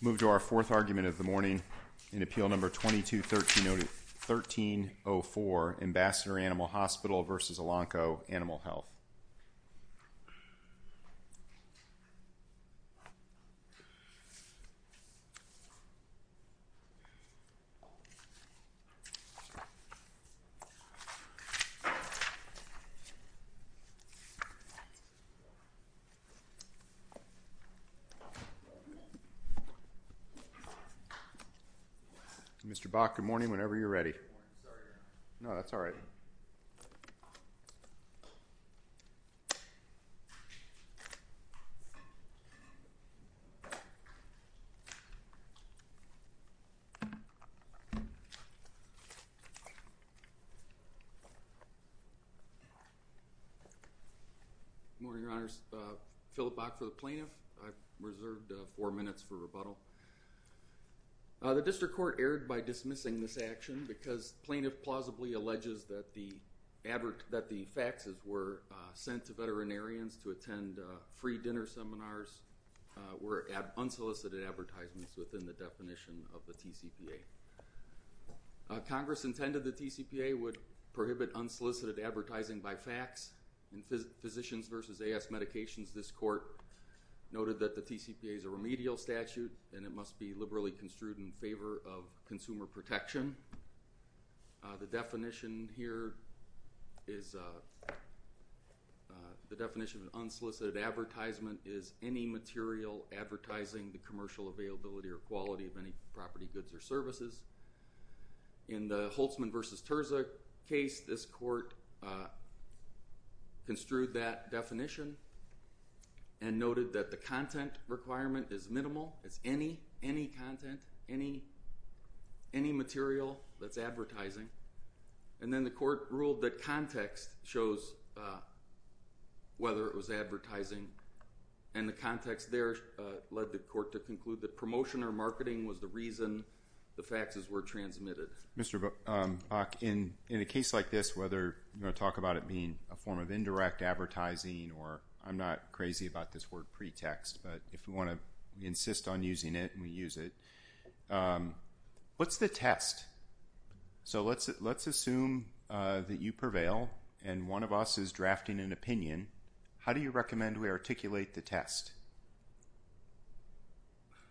Move to our fourth argument of the morning in Appeal No. 22-1304, Ambassador Animal Hospital v. Elanco Animal Health. Mr. Bach, good morning, whenever you're ready. Good morning, Your Honor. No, that's all right. Good morning, Your Honors. Philip Bach for the Plaintiff. I've reserved four minutes for rebuttal. The District Court erred by dismissing this action because plaintiff plausibly alleges that the faxes were sent to veterinarians to attend free dinner seminars were unsolicited advertisements within the definition of the TCPA. Congress intended the TCPA would prohibit unsolicited advertising by fax in physicians This Court noted that the TCPA is a remedial statute and it must be liberally construed in favor of consumer protection. The definition here is the definition of unsolicited advertisement is any material advertising the commercial availability or quality of any property, goods, or services. In the Holtzman v. Terza case, this Court construed that definition and noted that the content requirement is minimal. It's any content, any material that's advertising. And then the Court ruled that context shows whether it was advertising. And the context there led the Court to conclude that promotion or marketing was the reason the faxes were transmitted. Mr. Bach, in a case like this, whether you're going to talk about it being a form of indirect advertising or I'm not crazy about this word pretext, but if we want to insist on using it and we use it, what's the test? So let's assume that you prevail and one of us is drafting an opinion. How do you recommend we articulate the test?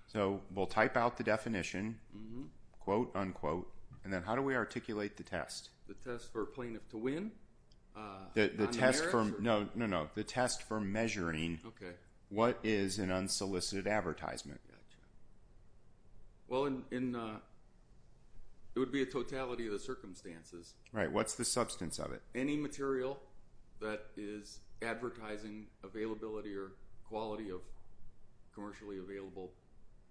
So we'll type out the definition, quote, unquote, and then how do we articulate the test? The test for plaintiff to win? No, no, no. The test for measuring what is an unsolicited advertisement. Well, it would be a totality of the circumstances. Right. What's the substance of it? Any material that is advertising availability or quality of commercially available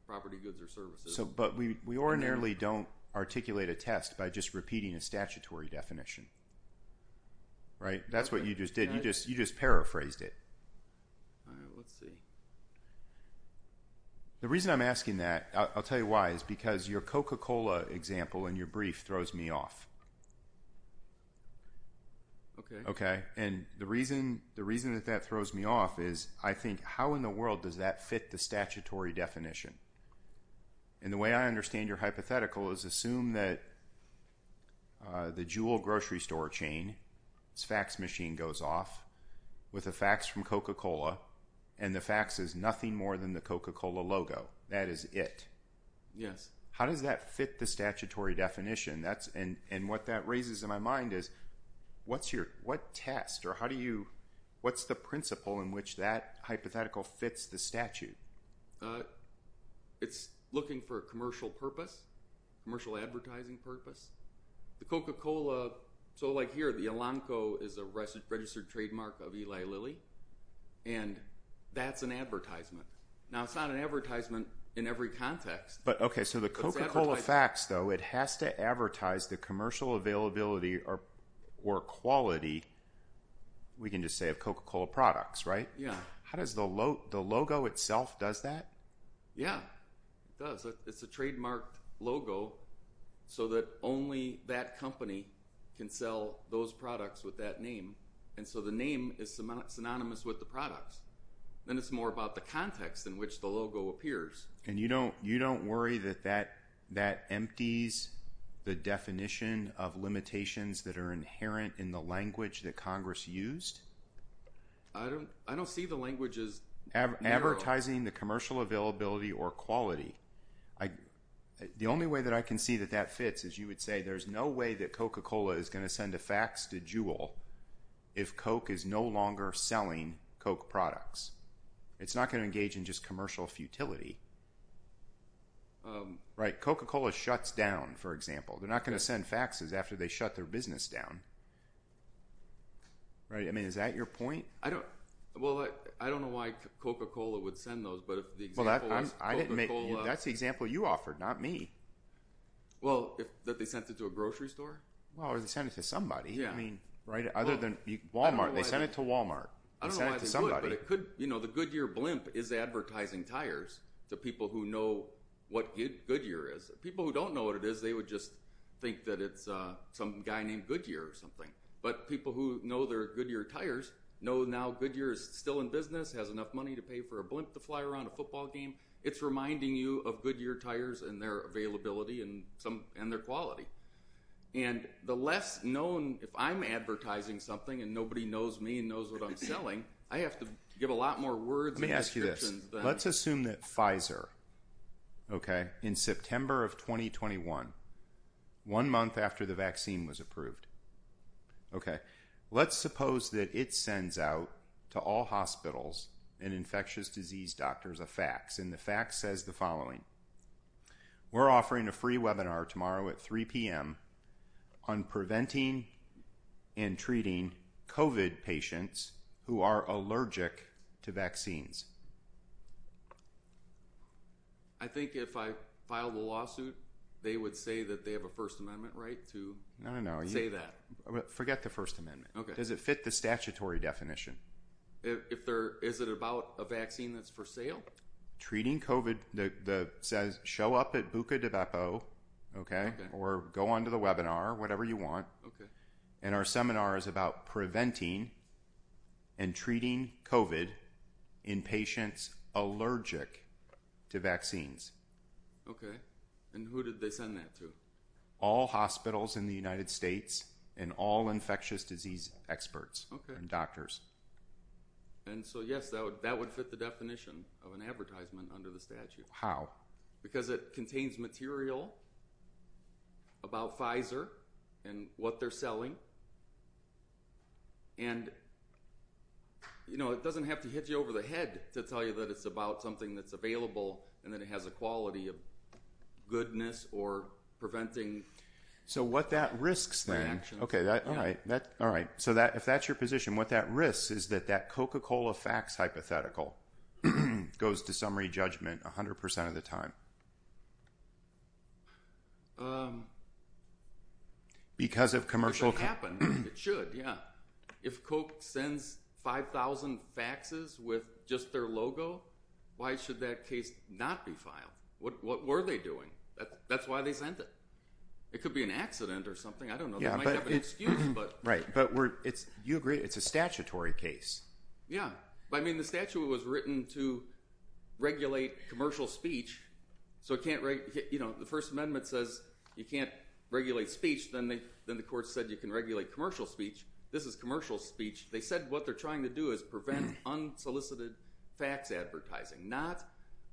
property, goods, or services. But we ordinarily don't articulate a test by just repeating a statutory definition, right? That's what you just did. You just paraphrased it. All right, let's see. The reason I'm asking that, I'll tell you why, is because your Coca-Cola example in Okay. Okay, and the reason that that throws me off is I think how in the world does that fit the statutory definition? And the way I understand your hypothetical is assume that the Juul grocery store chain fax machine goes off with a fax from Coca-Cola and the fax is nothing more than the Coca-Cola logo. That is it. Yes. How does that fit the statutory definition? And what that raises in my mind is what test or how do you, what's the principle in which that hypothetical fits the statute? It's looking for a commercial purpose, commercial advertising purpose. The Coca-Cola, so like here, the Elanco is a registered trademark of Eli Lilly and that's an advertisement. Now, it's not an advertisement in every context. But okay, so the Coca-Cola fax though, it has to advertise the commercial availability or quality, we can just say of Coca-Cola products, right? Yeah. How does the logo itself does that? Yeah, it does. It's a trademarked logo so that only that company can sell those products with that name. And so the name is synonymous with the products. Then it's more about the context in which the logo appears. And you don't worry that that empties the definition of limitations that are inherent in the language that Congress used? I don't see the language as narrow. Advertising the commercial availability or quality. The only way that I can see that that fits is you would say there's no way that Coca-Cola is going to send a fax to Juul if Coke is no longer selling Coke products. It's not going to engage in just commercial futility. Right, Coca-Cola shuts down, for example. They're not going to send faxes after they shut their business down. Right, I mean, is that your point? Well, I don't know why Coca-Cola would send those, but if the example was Coca-Cola... Well, that's the example you offered, not me. Well, that they sent it to a grocery store? Well, or they sent it to somebody. I mean, other than Walmart, they sent it to Walmart. I don't know why they would, but the Goodyear blimp is advertising tires to people who know what Goodyear is. People who don't know what it is, they would just think that it's some guy named Goodyear or something. But people who know their Goodyear tires know now Goodyear is still in business, has enough money to pay for a blimp to fly around a football game. It's reminding you of Goodyear tires and their availability and their quality. And the less known... If I'm advertising something and nobody knows me and knows what I'm selling, I have to give a lot more words and descriptions than... Let me ask you this. Let's assume that Pfizer, okay, in September of 2021, one month after the vaccine was approved, okay, let's suppose that it sends out to all hospitals and infectious disease doctors a fax, and the fax says the following. We're offering a free webinar tomorrow at 3 p.m. on preventing and treating COVID patients who are allergic to vaccines. I think if I file the lawsuit, they would say that they have a First Amendment right to say that. Forget the First Amendment. Okay. Does it fit the statutory definition? Is it about a vaccine that's for sale? Treating COVID... It says show up at Bucca di Beppo, okay, or go on to the webinar, whatever you want. Okay. And our seminar is about preventing and treating COVID in patients allergic to vaccines. Okay. And who did they send that to? All hospitals in the United States and all infectious disease experts and doctors. And so, yes, that would fit the definition of an advertisement under the statute. How? Because it contains material about Pfizer and what they're selling, and, you know, it doesn't have to hit you over the head to tell you that it's about something that's available and that it has a quality of goodness or preventing... So what that risks then... Okay. All right. So if that's your position, what that risks is that that Coca-Cola fax hypothetical goes to summary judgment 100% of the time because of commercial... It should happen. It should, yeah. If Coke sends 5,000 faxes with just their logo, why should that case not be filed? What were they doing? That's why they sent it. It could be an accident or something. I don't know. It might have an excuse, but... Right. But you agree it's a statutory case. Yeah. I mean, the statute was written to regulate commercial speech, so it can't... You know, the First Amendment says you can't regulate speech. Then the court said you can regulate commercial speech. This is commercial speech. They said what they're trying to do is prevent unsolicited fax advertising, not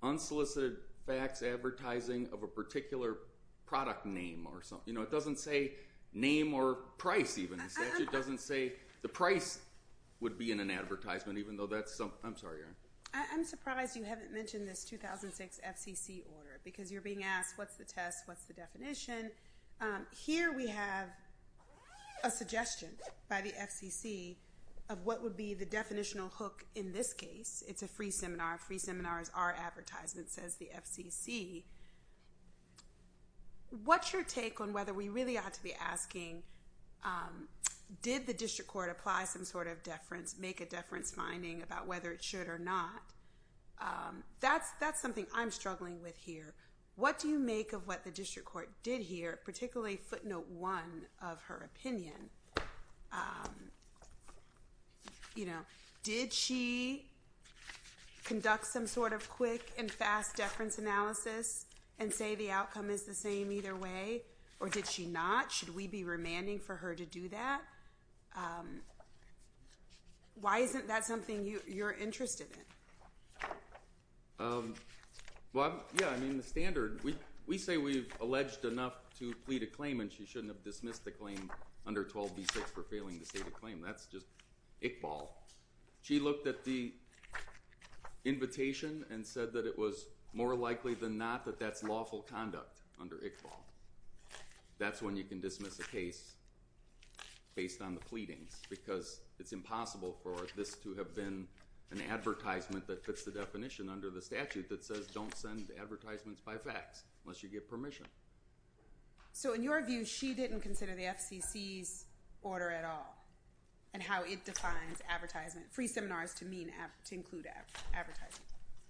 unsolicited fax advertising of a particular product name or something. You know, it doesn't say name or price even. The statute doesn't say the price would be in an advertisement, even though that's... I'm sorry, Erin. I'm surprised you haven't mentioned this 2006 FCC order because you're being asked what's the test, what's the definition. Here we have a suggestion by the FCC of what would be the definitional hook in this case. It's a free seminar. Free seminar is our advertisement, says the FCC. What's your take on whether we really ought to be asking did the district court apply some sort of deference, make a deference finding about whether it should or not? That's something I'm struggling with here. What do you make of what the district court did here, particularly footnote one of her opinion? You know, did she conduct some sort of quick and fast deference analysis and say the outcome is the same either way? Or did she not? Should we be remanding for her to do that? Why isn't that something you're interested in? Well, yeah, I mean, the standard... We say we've alleged enough to plead a claim and she shouldn't have dismissed the claim under 12B6 for failing to state a claim. That's just Iqbal. She looked at the invitation and said that it was more likely than not that that's lawful conduct under Iqbal. That's when you can dismiss a case based on the pleadings because it's impossible for this to have been an advertisement that fits the definition under the statute that says don't send advertisements by fax unless you get permission. So in your view, she didn't consider the FCC's order at all and how it defines free seminars to include advertising?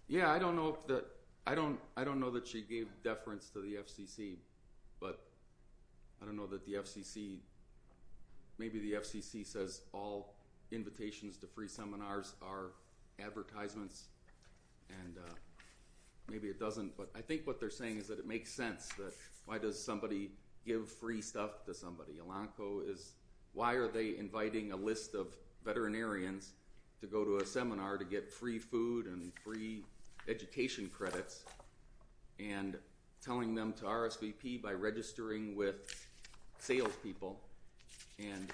Yeah, I don't know that she gave deference to the FCC, but I don't know that the FCC... Maybe the FCC says all invitations to free seminars are advertisements and maybe it doesn't, but I think what they're saying is that it makes sense. Why does somebody give free stuff to somebody? Elanco is... Why are they inviting a list of veterinarians to go to a seminar to get free food and free education credits and telling them to RSVP by registering with salespeople? And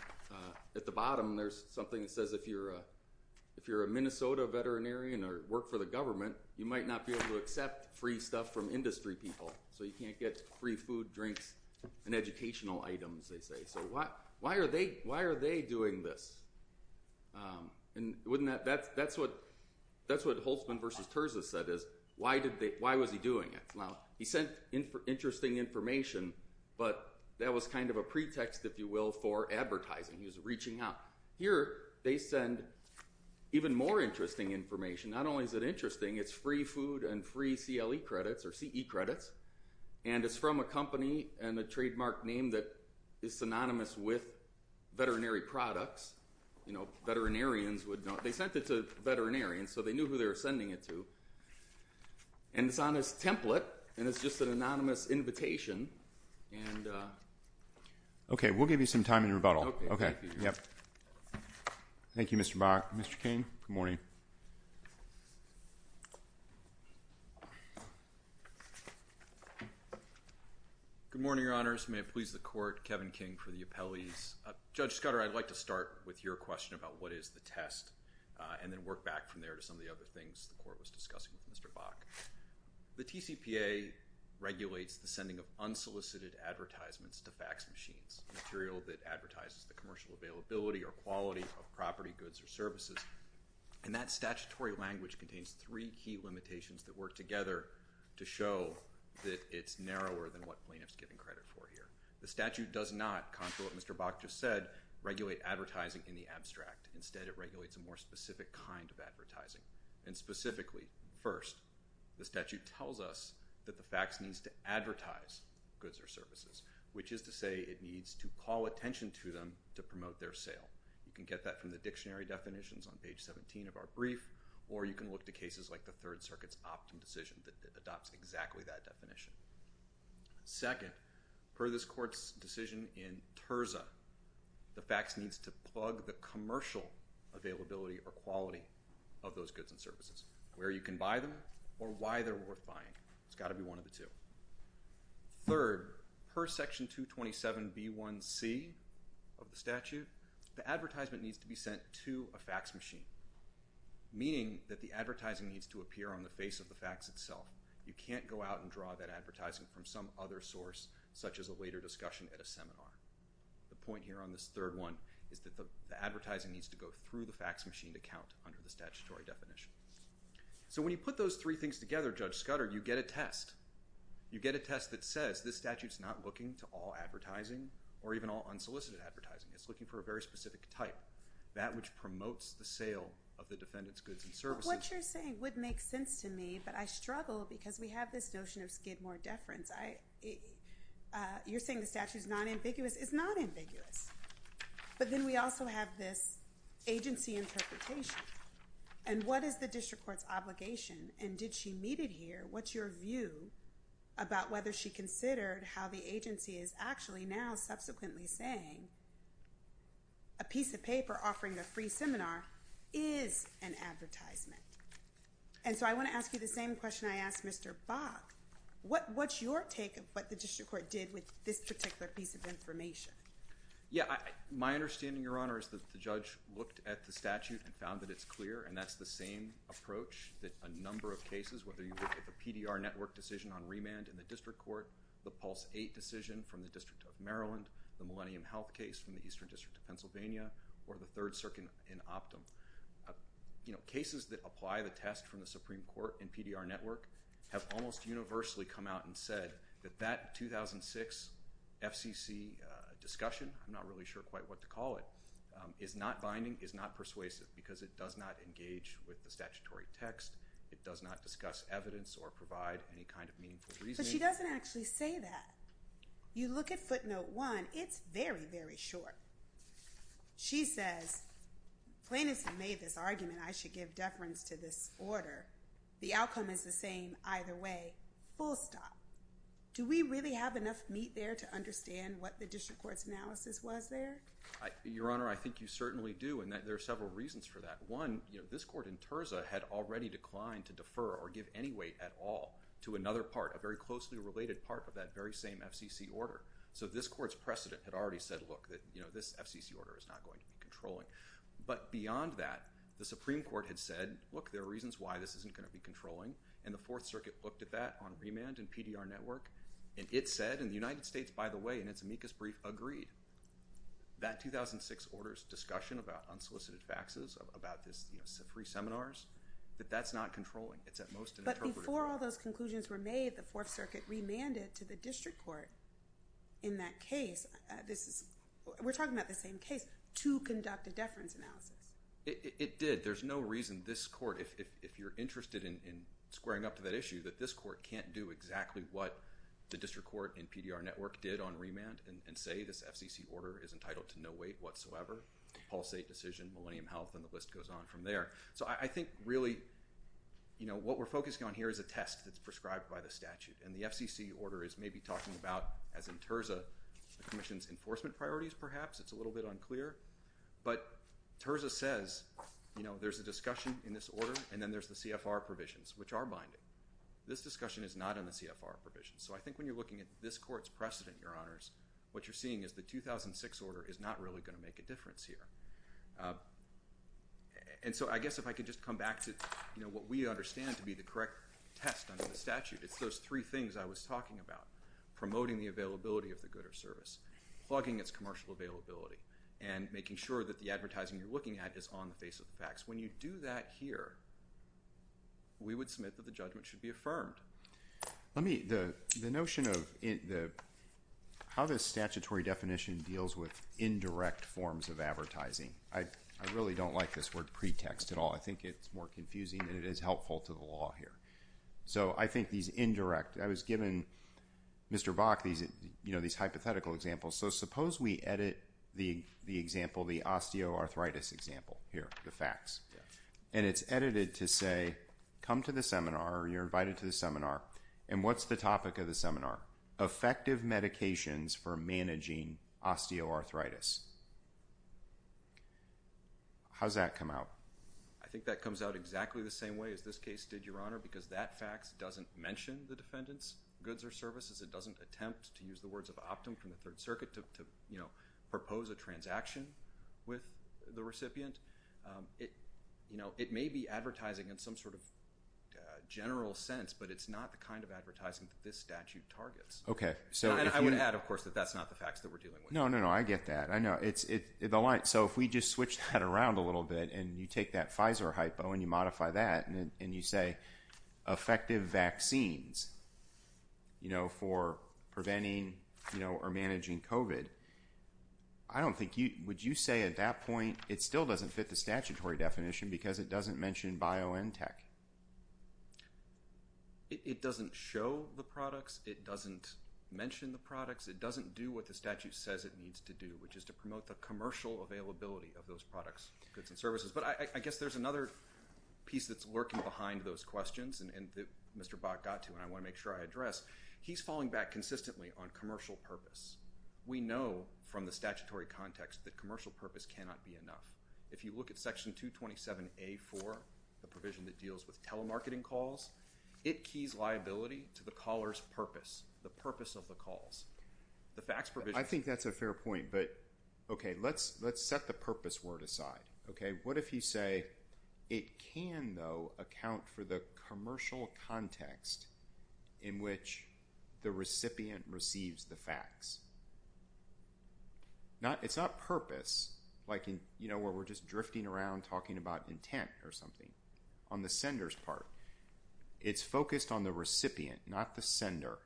at the bottom, there's something that says if you're a Minnesota veterinarian or work for the government, you might not be able to accept free stuff from industry people, so you can't get free food, drinks, and educational items, they say. So why are they doing this? And wouldn't that... That's what Holtzman versus Terza said is why was he doing it? Now, he sent interesting information, but that was kind of a pretext, if you will, for advertising. He was reaching out. Now, here they send even more interesting information. Not only is it interesting, it's free food and free CLE credits or CE credits, and it's from a company and a trademark name that is synonymous with veterinary products. Veterinarians would know. They sent it to veterinarians, so they knew who they were sending it to. And it's on this template, and it's just an anonymous invitation. Okay, we'll give you some time in rebuttal. Okay, thank you. Thank you, Mr. Bach. Mr. King, good morning. Good morning, Your Honors. May it please the Court, Kevin King for the appellees. Judge Scudder, I'd like to start with your question about what is the test, and then work back from there to some of the other things the Court was discussing with Mr. Bach. The TCPA regulates the sending of unsolicited advertisements to fax machines, material that advertises the commercial availability or quality of property, goods, or services. And that statutory language contains three key limitations that work together to show that it's narrower than what plaintiff's giving credit for here. The statute does not, contrary to what Mr. Bach just said, regulate advertising in the abstract. Instead, it regulates a more specific kind of advertising. And specifically, first, the statute tells us that the fax needs to advertise goods or services to them to promote their sale. You can get that from the dictionary definitions on page 17 of our brief, or you can look to cases like the Third Circuit's Optum decision that adopts exactly that definition. Second, per this Court's decision in Terza, the fax needs to plug the commercial availability or quality of those goods and services, where you can buy them, or why they're worth buying. It's got to be one of the two. Third, per Section 227b1c of the statute, the advertisement needs to be sent to a fax machine, meaning that the advertising needs to appear on the face of the fax itself. You can't go out and draw that advertising from some other source, such as a later discussion at a seminar. The point here on this third one is that the advertising needs to go through the fax machine to count under the statutory definition. So when you put those three things together, Judge Scudder, you get a test. You get a test that says this statute's not looking to all advertising or even all unsolicited advertising. It's looking for a very specific type, that which promotes the sale of the defendant's goods and services. But what you're saying would make sense to me, but I struggle because we have this notion of skid more deference. You're saying the statute's not ambiguous. It's not ambiguous. But then we also have this agency interpretation. And what is the district court's obligation? And did she meet it here? What's your view about whether she considered how the agency is actually now subsequently saying a piece of paper offering a free seminar is an advertisement? And so I want to ask you the same question I asked Mr. Bach. What's your take of what the district court did with this particular piece of information? Yeah. My understanding, Your Honor, is that the judge looked at the statute and found that it's clear. And that's the same approach that a number of cases, whether you look at the PDR network decision on remand in the district court, the Pulse 8 decision from the District of Maryland, the Millennium Health case from the Eastern District of Pennsylvania, or the Third Circuit in Optum. Cases that apply the test from the Supreme Court and PDR network have almost universally come out and said that that 2006 FCC discussion, I'm not really sure quite what to call it, is not binding, is not persuasive because it does not engage with the statutory text. It does not discuss evidence or provide any kind of meaningful reasoning. But she doesn't actually say that. You look at footnote one. It's very, very short. She says, plaintiffs have made this argument I should give deference to this order. The outcome is the same either way. Full stop. Do we really have enough meat there to understand what the district court's analysis was there? Your Honor, I think you certainly do. And there are several reasons for that. One, this court in Terza had already declined to defer or give any weight at all to another part, a very closely related part of that very same FCC order. So this court's precedent had already said, look, this FCC order is not going to be controlling. But beyond that, the Supreme Court had said, look, there are reasons why this isn't going to be controlling. And the Fourth Circuit looked at that on remand and PDR network. And it said, and the United States, by the way, in its amicus brief, agreed. That 2006 order's discussion about unsolicited faxes, about this free seminars, that that's not controlling. It's at most an interpreter. Before all those conclusions were made, the Fourth Circuit remanded to the district court in that case. This is, we're talking about the same case, to conduct a deference analysis. It did. There's no reason this court, if you're interested in squaring up to that issue, that this court can't do exactly what the district court and PDR network did on remand and say this FCC order is entitled to no weight whatsoever. Pulse 8 decision, Millennium Health, and the list goes on from there. So I think really, you know, what we're focusing on here is a test that's prescribed by the statute. And the FCC order is maybe talking about, as in Terza, the commission's enforcement priorities, perhaps. It's a little bit unclear. But Terza says, you know, there's a discussion in this order, and then there's the CFR provisions, which are binding. This discussion is not in the CFR provisions. So I think when you're looking at this court's precedent, Your Honors, what you're seeing is the 2006 order is not really going to make a difference here. And so I guess if I could just come back to, you know, what we understand to be the correct test under the statute, it's those three things I was talking about, promoting the availability of the good or service, plugging its commercial availability, and making sure that the advertising you're looking at is on the face of the facts. When you do that here, we would submit that the judgment should be affirmed. Let me, the notion of how this statutory definition deals with indirect forms of advertising, I really don't like this word pretext at all. I think it's more confusing, and it is helpful to the law here. So I think these indirect, I was given, Mr. Bach, you know, these hypothetical examples. So suppose we edit the example, the osteoarthritis example here, the facts. And it's edited to say, come to the seminar, you're invited to the seminar, and what's the topic of the seminar? Effective medications for managing osteoarthritis. How's that come out? I think that comes out exactly the same way as this case did, Your Honor, because that facts doesn't mention the defendant's goods or services. It doesn't attempt to use the words of Optum from the Third Circuit to, you know, propose a transaction with the recipient. You know, it may be advertising in some sort of general sense, but it's not the kind of advertising that this statute targets. Okay. I would add, of course, that that's not the facts that we're dealing with. No, no, no. I get that. I know. So if we just switch that around a little bit, and you take that Pfizer hypo, and you modify that, and you say effective vaccines, you know, for preventing, you know, or managing COVID, I don't think you, would you say at that point, it still doesn't fit the statutory definition because it doesn't mention BioNTech? It doesn't show the products. It doesn't mention the products. It doesn't do what the statute says it needs to do, which is to promote the commercial availability of those products, goods, and services. But I guess there's another piece that's lurking behind those questions, and that Mr. Bach got to, and I want to make sure I address. He's falling back consistently on commercial purpose. We know from the statutory context that commercial purpose cannot be enough. If you look at Section 227A-4, the provision that deals with telemarketing calls, it keys liability to the caller's purpose, the purpose of the calls. The facts provision… I think that's a fair point, but, okay, let's set the purpose word aside, okay? What if you say, it can, though, account for the commercial context in which the recipient receives the facts? It's not purpose, like in, you know, where we're just drifting around talking about intent or something, on the sender's part. It's focused on the recipient, not the sender.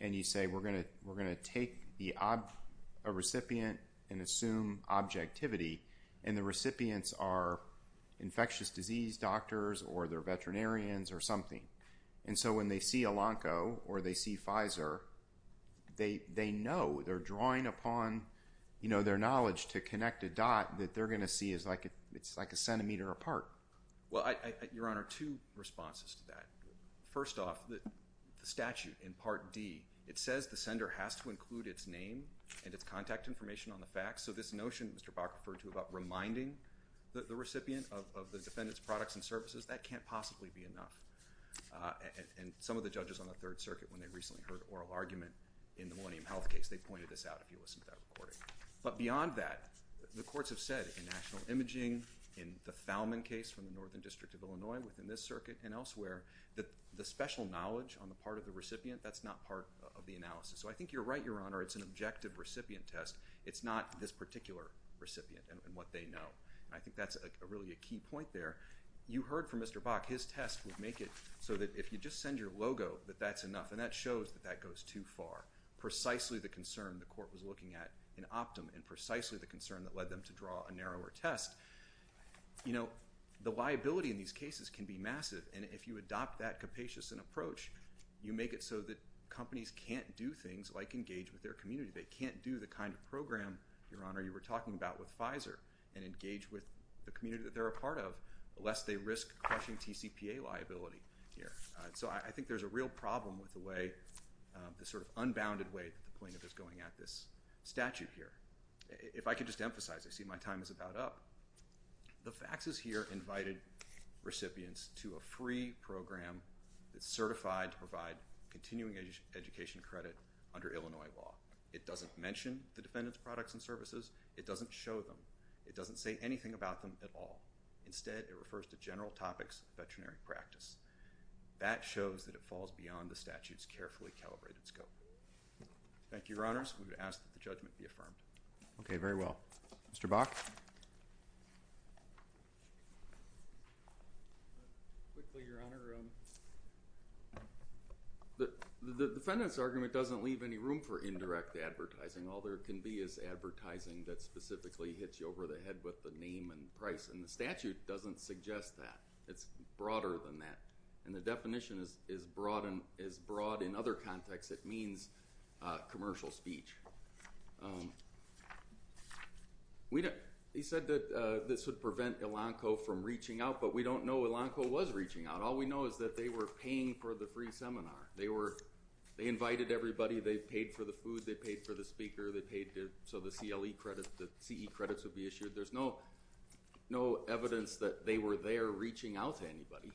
And you say, we're going to take a recipient and assume objectivity, and the recipients are infectious disease doctors or they're veterinarians or something. And so when they see Elanco or they see Pfizer, they know, they're drawing upon, you know, their knowledge to connect a dot that they're going to see is like a centimeter apart. Well, Your Honor, two responses to that. First off, the statute in Part D, it says the sender has to include its name and its contact information on the facts. So this notion that Mr. Bach referred to about reminding the recipient of the defendant's products and services, that can't possibly be enough. And some of the judges on the Third Circuit, when they recently heard oral argument in the Millennium Health case, they pointed this out if you listened to that recording. But beyond that, the courts have said in national imaging, in the Fowlman case from the Northern District of Illinois, within this circuit and elsewhere, that the special knowledge on the part of the recipient, that's not part of the analysis. So I think you're right, Your Honor, it's an objective recipient test. It's not this particular recipient and what they know. And I think that's really a key point there. You heard from Mr. Bach, his test would make it so that if you just send your logo, that that's enough. And that shows that that goes too far, precisely the concern the court was looking at in Optum and precisely the concern that led them to draw a narrower test. You know, the liability in these cases can be massive. And if you adopt that capacious an approach, you make it so that companies can't do things like engage with their community. They can't do the kind of program, Your Honor, you were talking about with Pfizer and engage with the community that they're a part of, lest they risk crushing TCPA liability here. So I think there's a real problem with the way, the sort of unbounded way that the plaintiff is going at this statute here. If I could just emphasize, I see my time is about up. The faxes here invited recipients to a free program that's certified to provide continuing education credit under Illinois law. It doesn't mention the defendant's products and services. It doesn't show them. It doesn't say anything about them at all. Instead, it refers to general topics of veterinary practice. That shows that it falls beyond the statute's carefully calibrated scope. Thank you, Your Honors. We would ask that the judgment be affirmed. Okay, very well. Mr. Bach? Quickly, Your Honor, the defendant's argument doesn't leave any room for indirect advertising. All there can be is advertising that specifically hits you over the head with the name and price, and the statute doesn't suggest that. It's broader than that, and the definition is broad in other contexts. It means commercial speech. He said that this would prevent Elanco from reaching out, but we don't know Elanco was reaching out. All we know is that they were paying for the free seminar. They invited everybody. They paid for the food. They paid for the speaker. They paid so the CE credits would be issued. There's no evidence that they were there reaching out to anybody.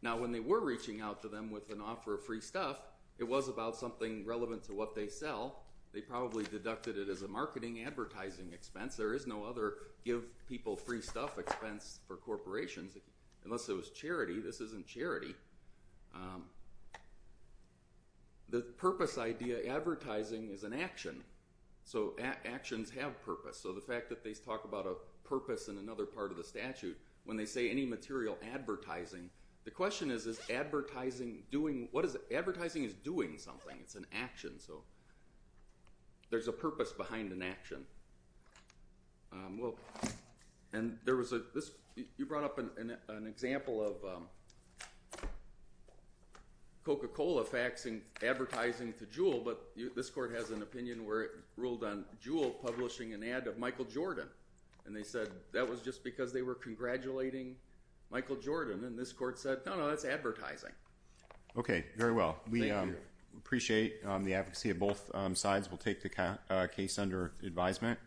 Now, when they were reaching out to them with an offer of free stuff, it was about something relevant to what they sell. They probably deducted it as a marketing advertising expense. There is no other give people free stuff expense for corporations unless it was charity. This isn't charity. The purpose idea, advertising, is an action, so actions have purpose. So the fact that they talk about a purpose in another part of the statute, when they say any material advertising, the question is, is advertising doing what is it? Advertising is doing something. It's an action, so there's a purpose behind an action. You brought up an example of Coca-Cola faxing advertising to Juul, but this court has an opinion where it ruled on Juul publishing an ad of Michael Jordan, and they said that was just because they were congratulating Michael Jordan, and this court said, no, no, that's advertising. Okay, very well. We appreciate the advocacy of both sides. We'll take the case under advisement.